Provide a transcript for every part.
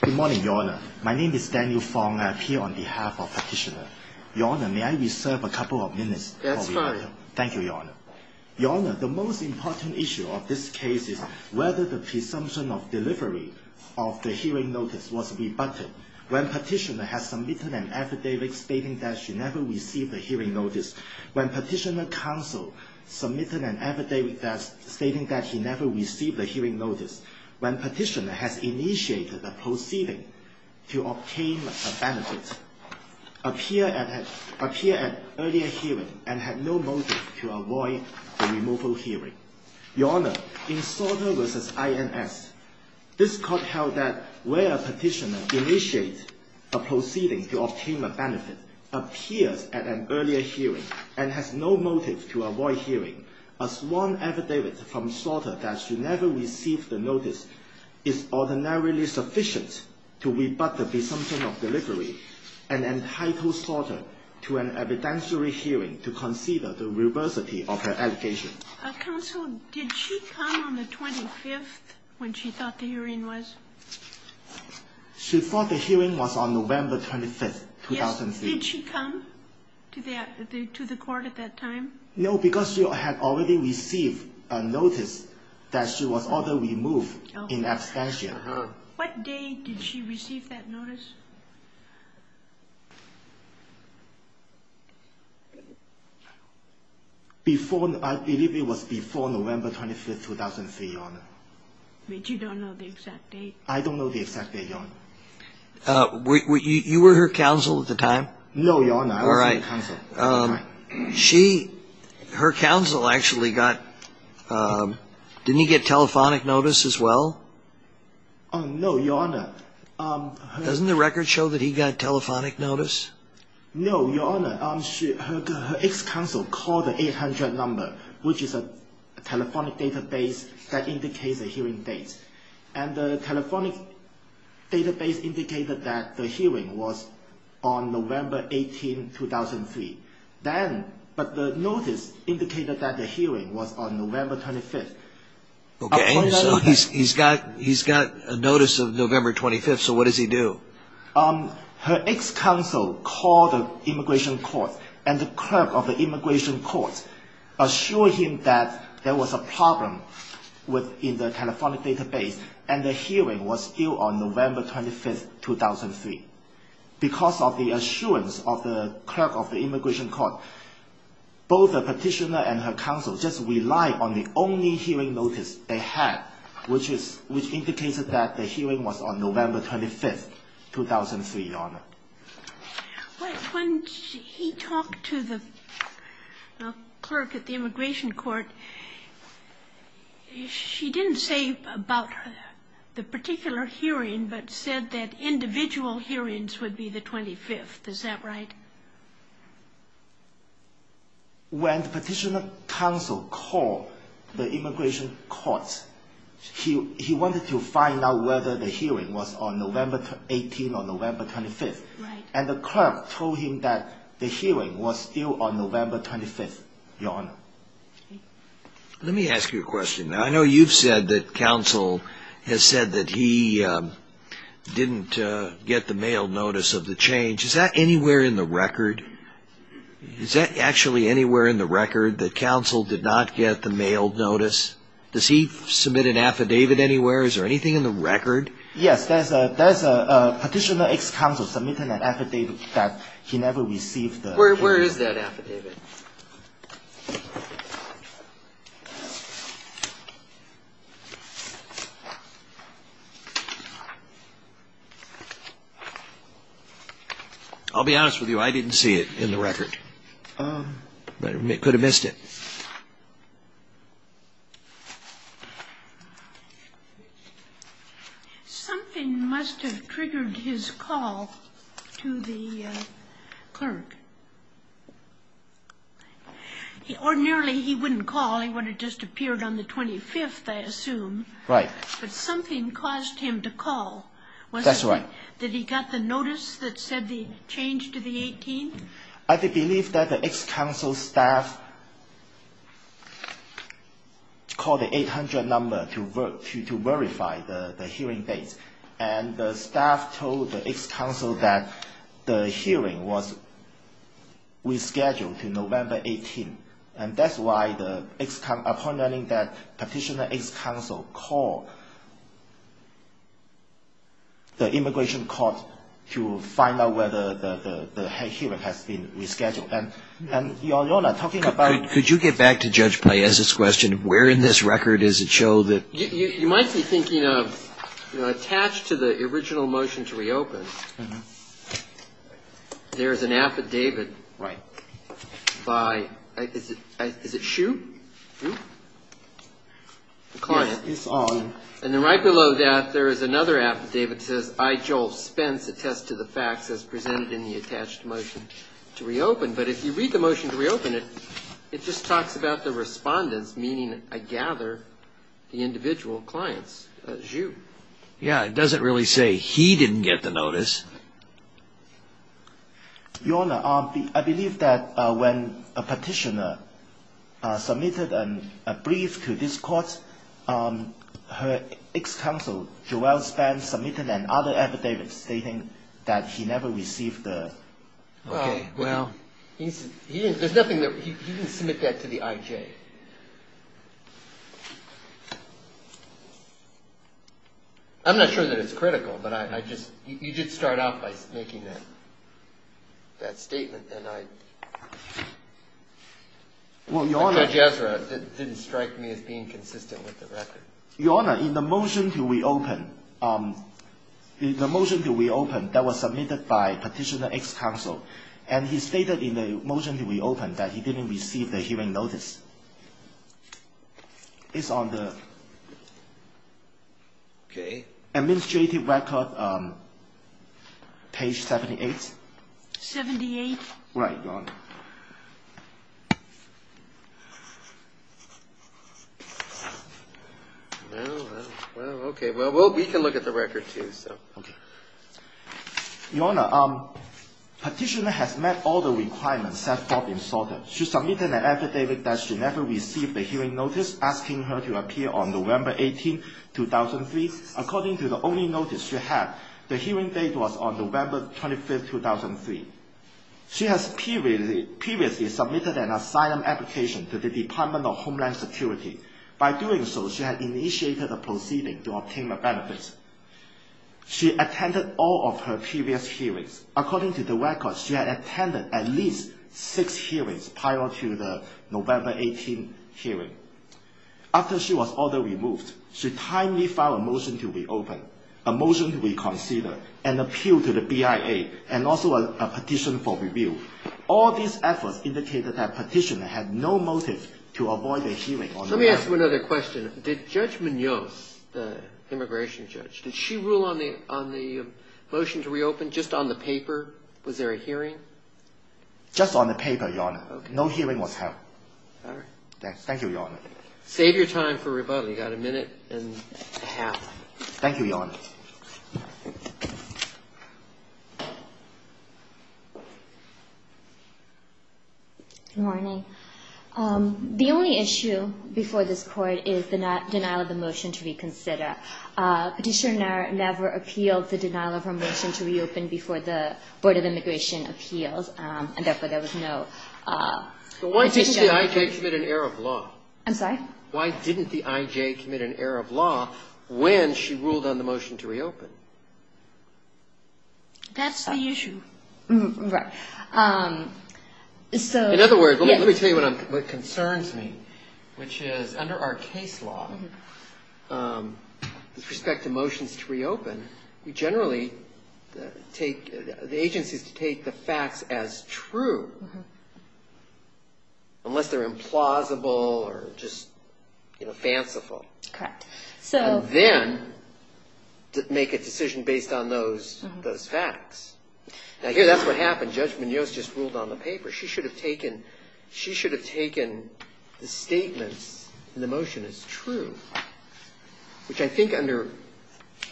Good morning, Your Honour. My name is Daniel Fong. I appear on behalf of the Petitioner. Your Honour, may I reserve a couple of minutes? That's fine. Thank you, Your Honour. Your Honour, the most important issue of this case is whether the presumption of delivery of the hearing notice was rebutted. When Petitioner has submitted an affidavit stating that she never received a hearing notice, when Petitioner counsel submitted an affidavit stating that he never received a hearing notice, when Petitioner has initiated the proceeding to obtain a benefit, appears at an earlier hearing and has no motive to avoid the removal hearing. Your Honour, in Sorter v. INS, this court held that where Petitioner initiated a proceeding to obtain a benefit, appears at an earlier hearing and has no motive to avoid hearing as one affidavit from Sorter that she never received the notice is ordinarily sufficient to rebut the presumption of delivery and entitle Sorter to an evidentiary hearing to consider the reversity of her allegation. Counsel, did she come on the 25th when she thought the hearing was? She thought the hearing was on November 25th, 2003. Yes. Did she come to the court at that time? No, because she had already received a notice that she was ordered removed in abstention. What date did she receive that notice? I believe it was before November 25th, 2003, Your Honour. But you don't know the exact date? I don't know the exact date, Your Honour. You were her counsel at the time? No, Your Honour, I was not her counsel. Her counsel actually got, didn't he get telephonic notice as well? No, Your Honour. Doesn't the record show that he got telephonic notice? No, Your Honour, her ex-counsel called the 800 number, which is a telephonic database that indicates a hearing date. And the telephonic database indicated that the hearing was on November 18, 2003. But the notice indicated that the hearing was on November 25th. Okay, so he's got a notice of November 25th, so what does he do? Her ex-counsel called the immigration court, and the clerk of the immigration court assured him that there was a problem within the telephonic database, and the hearing was due on November 25th, 2003. Because of the assurance of the clerk of the immigration court, both the petitioner and her counsel just relied on the only hearing notice they had, which indicated that the hearing was on November 25th, 2003, Your Honour. When he talked to the clerk at the immigration court, she didn't say about the particular hearing, but said that individual hearings would be the 25th. Is that right? When the petitioner's counsel called the immigration court, he wanted to find out whether the hearing was on November 18 or November 25th. And the clerk told him that the hearing was due on November 25th, Your Honour. Let me ask you a question. I know you've said that counsel has said that he didn't get the mail notice of the change. Is that anywhere in the record? Is that actually anywhere in the record that counsel did not get the mail notice? Does he submit an affidavit anywhere? Is there anything in the record? Yes, there's a petitioner's ex-counsel submitting an affidavit that he never received the mail notice. Where is that affidavit? I'll be honest with you. I didn't see it in the record. I could have missed it. Something must have triggered his call to the clerk. Ordinarily, he wouldn't call. He would have just appeared on the 25th, I assume. Right. But something caused him to call. That's right. Did he get the notice that said the change to the 18th? I believe that the ex-counsel's staff called the 800 number to verify the hearing dates. And the staff told the ex-counsel that the hearing was rescheduled to November 18. And that's why the ex-counsel, upon learning that Petitioner's ex-counsel called the Immigration Court to find out whether the hearing has been rescheduled. And Your Honor, talking about the ex-counsel's staff... Could you get back to Judge Paez's question? Where in this record does it show that... You might be thinking of, attached to the original motion to reopen, there is an affidavit by... Is it Hsu? The client. Yes, it's on. And then right below that, there is another affidavit that says, I, Joel Spence, attest to the facts as presented in the attached motion to reopen. But if you read the motion to reopen, it just talks about the respondents, meaning I gather the individual clients, Hsu. Yeah, it doesn't really say he didn't get the notice. Your Honor, I believe that when Petitioner submitted a brief to this court, her ex-counsel, Joel Spence, submitted another affidavit stating that he never received the... Okay, well... He didn't submit that to the IJ. I'm not sure that it's critical, but you did start out by making that statement, and I... Judge Ezra didn't strike me as being consistent with the record. Your Honor, in the motion to reopen, the motion to reopen that was submitted by Petitioner's ex-counsel, and he stated in the motion to reopen that he didn't receive the hearing notice. It's on the administrative record, page 78. 78? Right, Your Honor. Okay, well, we can look at the record, too. Your Honor, Petitioner has met all the requirements set forth in Sorter. She submitted an affidavit that she never received a hearing notice, asking her to appear on November 18, 2003. According to the only notice she had, the hearing date was on November 25, 2003. She has previously submitted an asylum application to the Department of Homeland Security. By doing so, she had initiated a proceeding to obtain the benefits. She attended all of her previous hearings. According to the record, she had attended at least six hearings prior to the November 18 hearing. After she was ordered removed, she timely filed a motion to reopen, a motion to reconsider, an appeal to the BIA, and also a petition for review. All these efforts indicated that Petitioner had no motive to avoid a hearing on November 18. Let me ask you another question. Did Judge Munoz, the immigration judge, did she rule on the motion to reopen just on the paper? Was there a hearing? Just on the paper, Your Honor. Okay. No hearing was held. All right. Thank you, Your Honor. Save your time for rebuttal. You've got a minute and a half. Thank you, Your Honor. Good morning. The only issue before this Court is the denial of the motion to reconsider. Petitioner never appealed the denial of her motion to reopen before the Board of Immigration appeals, and therefore there was no petition. Why didn't the I.J. commit an error of law? I'm sorry? Why didn't the I.J. commit an error of law when she ruled on the motion to reopen? That's the issue. Right. In other words, let me tell you what concerns me, which is under our case law, with respect to motions to reopen, we generally take the agencies to take the facts as true, unless they're implausible or just fanciful. Correct. And then make a decision based on those facts. Now, here, that's what happened. Judge Munoz just ruled on the paper. She should have taken the statements in the motion as true, which I think under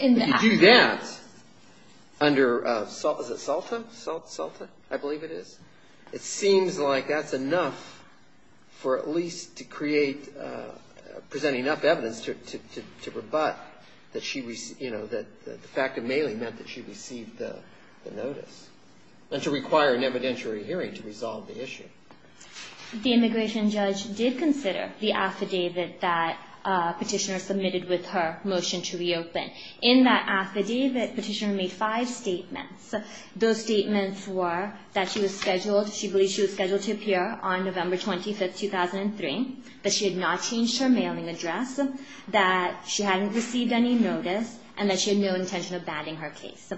If you do that under, is it SALTA? SALTA, I believe it is. It seems like that's enough for at least to create, present enough evidence to rebut that she, you know, that the fact of mailing meant that she received the notice, and to require an evidentiary hearing to resolve the issue. The immigration judge did consider the affidavit that Petitioner submitted with her motion to reopen. In that affidavit, Petitioner made five statements. Those statements were that she was scheduled, she believed she was scheduled to appear on November 25, 2003, that she had not changed her mailing address, that she hadn't received any notice, and that she had no intention of banning her case.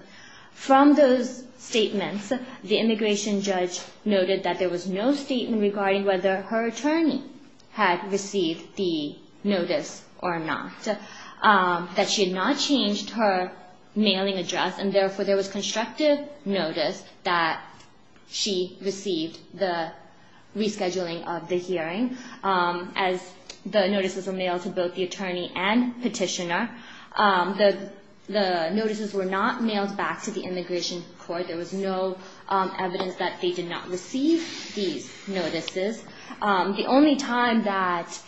From those statements, the immigration judge noted that there was no statement regarding whether her attorney had received the notice or not, that she had not changed her mailing address, and therefore there was constructive notice that she received the rescheduling of the hearing, as the notices were mailed to both the attorney and Petitioner. The notices were not mailed back to the immigration court. There was no evidence that they did not receive these notices. The only time that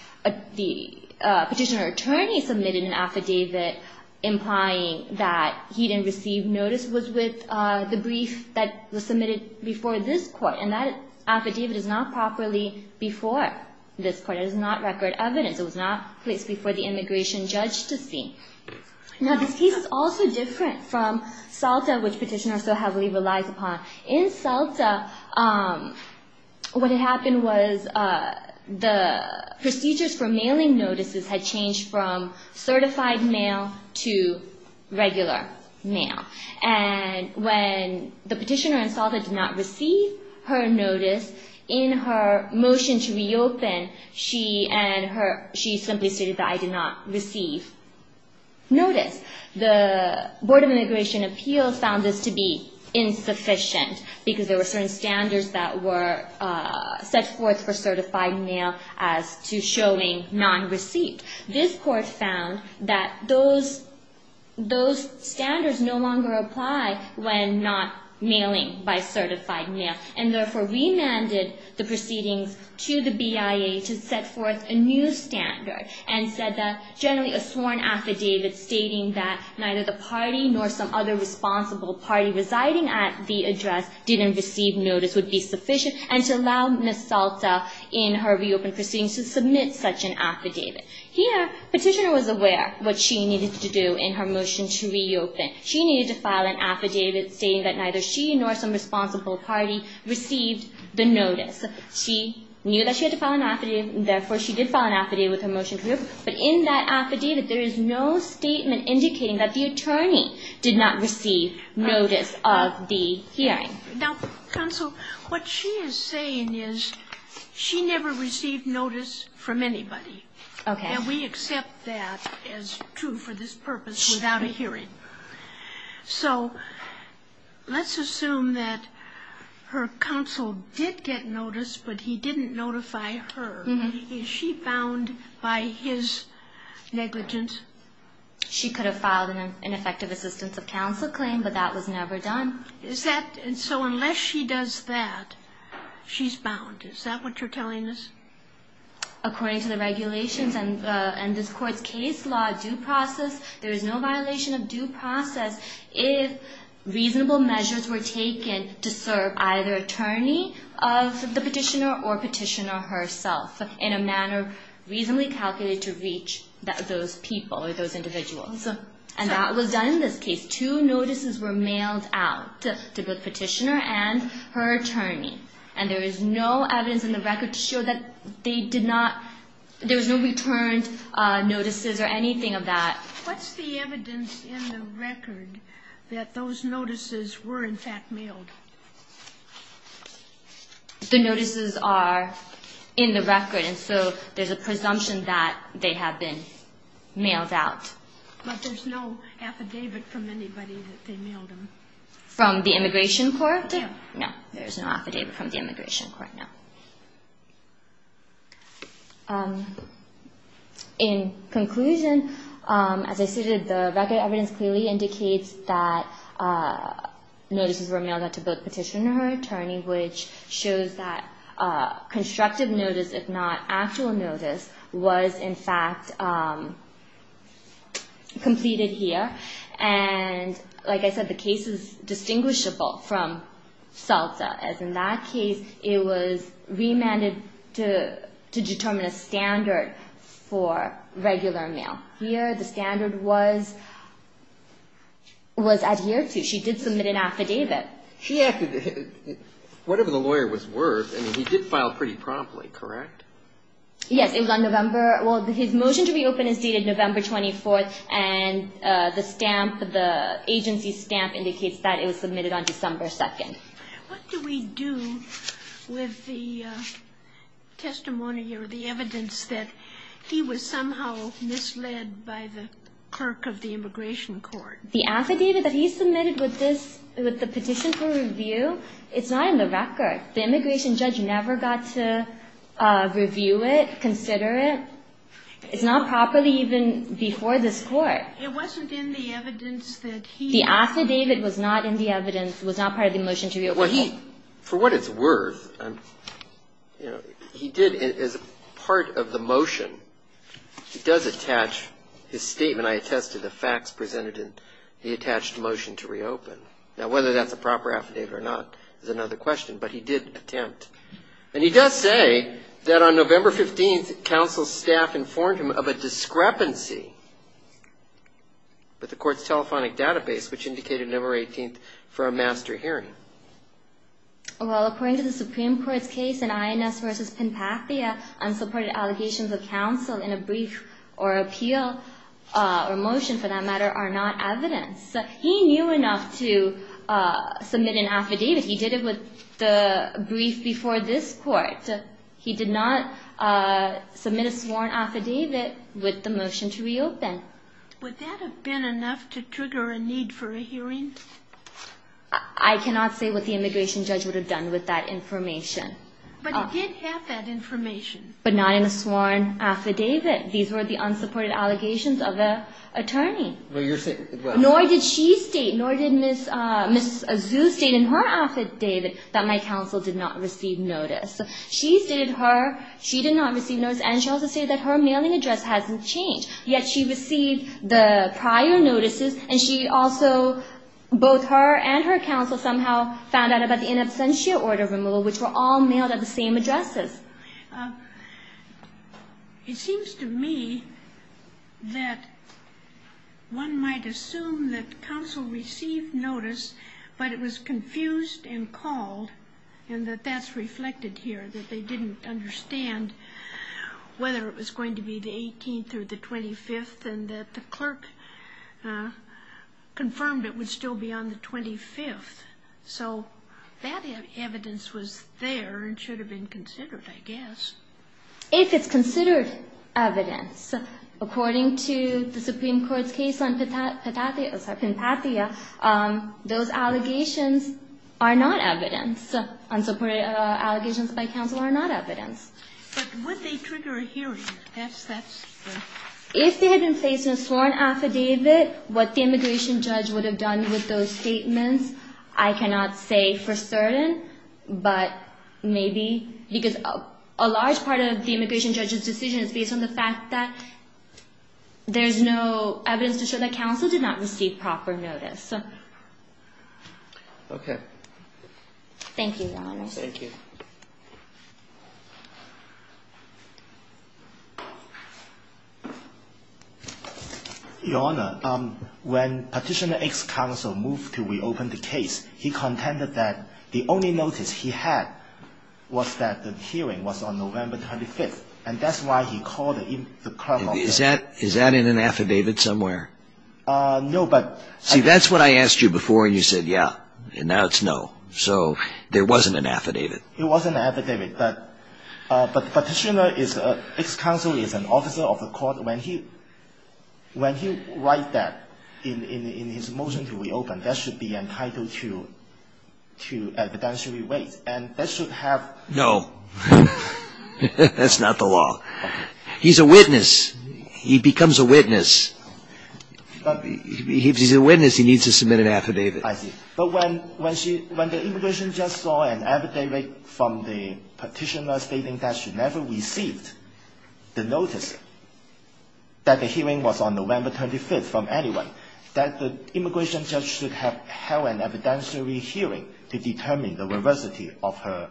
the Petitioner attorney submitted an affidavit implying that he didn't receive notice was with the brief that was submitted before this court, and that affidavit is not properly before this court. It is not record evidence. It was not placed before the immigration judge to see. Now, this case is also different from SALTA, which Petitioner so heavily relies upon. In SALTA, what had happened was the procedures for mailing notices had changed from certified mail to regular mail. And when the Petitioner and SALTA did not receive her notice, in her motion to reopen, she simply stated that I did not receive notice. The Board of Immigration Appeals found this to be insufficient, because there were certain standards that were set forth for certified mail as to showing non-received. This court found that those standards no longer apply when not mailing by certified mail, and therefore remanded the proceedings to the BIA to set forth a new standard, and said that generally a sworn affidavit stating that neither the party nor some other responsible party residing at the address didn't receive notice would be sufficient, and to allow Ms. SALTA in her reopened proceedings to submit such an affidavit. Here, Petitioner was aware what she needed to do in her motion to reopen. She needed to file an affidavit stating that neither she nor some responsible party received the notice. She knew that she had to file an affidavit, and therefore she did file an affidavit with her motion to reopen. But in that affidavit, there is no statement indicating that the attorney did not receive notice of the hearing. Sotomayor, what she is saying is she never received notice from anybody. Okay. And we accept that as true for this purpose without a hearing. So let's assume that her counsel did get notice, but he didn't notify her. Is she bound by his negligence? She could have filed an effective assistance of counsel claim, but that was never done. So unless she does that, she's bound. Is that what you're telling us? According to the regulations and this Court's case law due process, there is no violation of due process if reasonable measures were taken to serve either attorney of the petitioner or petitioner herself in a manner reasonably calculated to reach those people or those individuals. And that was done in this case. Two notices were mailed out to the petitioner and her attorney, and there is no evidence in the record to show that they did not – What's the evidence in the record that those notices were, in fact, mailed? The notices are in the record, and so there's a presumption that they have been mailed out. But there's no affidavit from anybody that they mailed them? From the Immigration Court? No. No, there's no affidavit from the Immigration Court, no. In conclusion, as I stated, the record evidence clearly indicates that notices were mailed out to both petitioner and her attorney, which shows that constructive notice, if not actual notice, was, in fact, completed here. And like I said, the case is distinguishable from SELTA, as in that case, it was remanded to determine a standard for regular mail. Here, the standard was adhered to. She did submit an affidavit. Whatever the lawyer was worth, I mean, he did file pretty promptly, correct? Yes, it was on November – well, his motion to reopen is dated November 24th, and the stamp, the agency stamp, indicates that it was submitted on December 2nd. What do we do with the testimony or the evidence that he was somehow misled by the clerk of the Immigration Court? The affidavit that he submitted with this – with the petition for review, it's not in the record. The immigration judge never got to review it, consider it. It's not properly even before this Court. It wasn't in the evidence that he – The affidavit was not in the evidence, was not part of the motion to reopen. Well, he – for what it's worth, you know, he did, as part of the motion, he does attach his statement. I attested the facts presented in the attached motion to reopen. Now, whether that's a proper affidavit or not is another question, but he did attempt. And he does say that on November 15th, counsel's staff informed him of a discrepancy with the Court's telephonic database, which indicated November 18th for a master hearing. Well, according to the Supreme Court's case in INS v. Pinpathia, unsupported allegations of counsel in a brief or appeal or motion, for that matter, are not evidence. He knew enough to submit an affidavit. He did it with the brief before this Court. He did not submit a sworn affidavit with the motion to reopen. Would that have been enough to trigger a need for a hearing? I cannot say what the immigration judge would have done with that information. But he did have that information. But not in a sworn affidavit. These were the unsupported allegations of the attorney. Well, you're saying – Nor did she state, nor did Ms. Azuz state in her affidavit that my counsel did not receive notice. She stated her, she did not receive notice, and she also stated that her mailing address hasn't changed. Yet she received the prior notices, and she also, both her and her counsel somehow found out about the in absentia order removal, which were all mailed at the same addresses. It seems to me that one might assume that counsel received notice, but it was confused and called, and that that's reflected here, that they didn't understand whether it was going to be the 18th or the 25th, and that the clerk confirmed it would still be on the 25th. So that evidence was there and should have been considered, I guess. If it's considered evidence, according to the Supreme Court's case on Pinpatia, those allegations are not evidence. Unsupported allegations by counsel are not evidence. But would they trigger a hearing? If they had been placed in a sworn affidavit, what the immigration judge would have done with those statements, I cannot say for certain. But maybe, because a large part of the immigration judge's decision is based on the fact that there's no evidence to show that counsel did not receive proper notice. Okay. Thank you, Your Honor. Thank you. Your Honor, when Petitioner X's counsel moved to reopen the case, he contended that the only notice he had was that the hearing was on November 25th, and that's why he called the clerk. Is that in an affidavit somewhere? No, but ---- See, that's what I asked you before, and you said, yeah. And now it's no. So there wasn't an affidavit. There wasn't an affidavit. But Petitioner X's counsel is an officer of the court. When he writes that in his motion to reopen, that should be entitled to evidentiary weight, and that should have ---- No. That's not the law. He's a witness. He becomes a witness. If he's a witness, he needs to submit an affidavit. I see. But when the immigration judge saw an affidavit from the petitioner stating that she never received the notice that the hearing was on November 25th from anyone, that the immigration judge should have held an evidentiary hearing to determine the veracity of her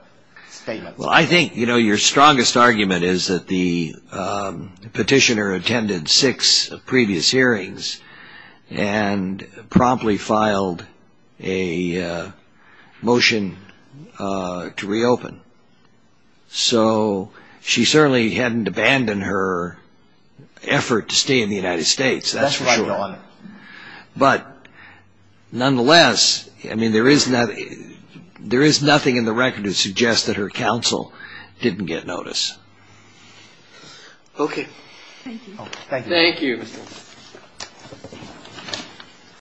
statement. Well, I think, you know, your strongest argument is that the petitioner attended six previous hearings and promptly filed a motion to reopen. So she certainly hadn't abandoned her effort to stay in the United States, that's for sure. That's right, Your Honor. But nonetheless, I mean, there is nothing in the record to suggest that her counsel didn't get notice. Okay. Thank you. Thank you. Thank you, Mr. Wolf.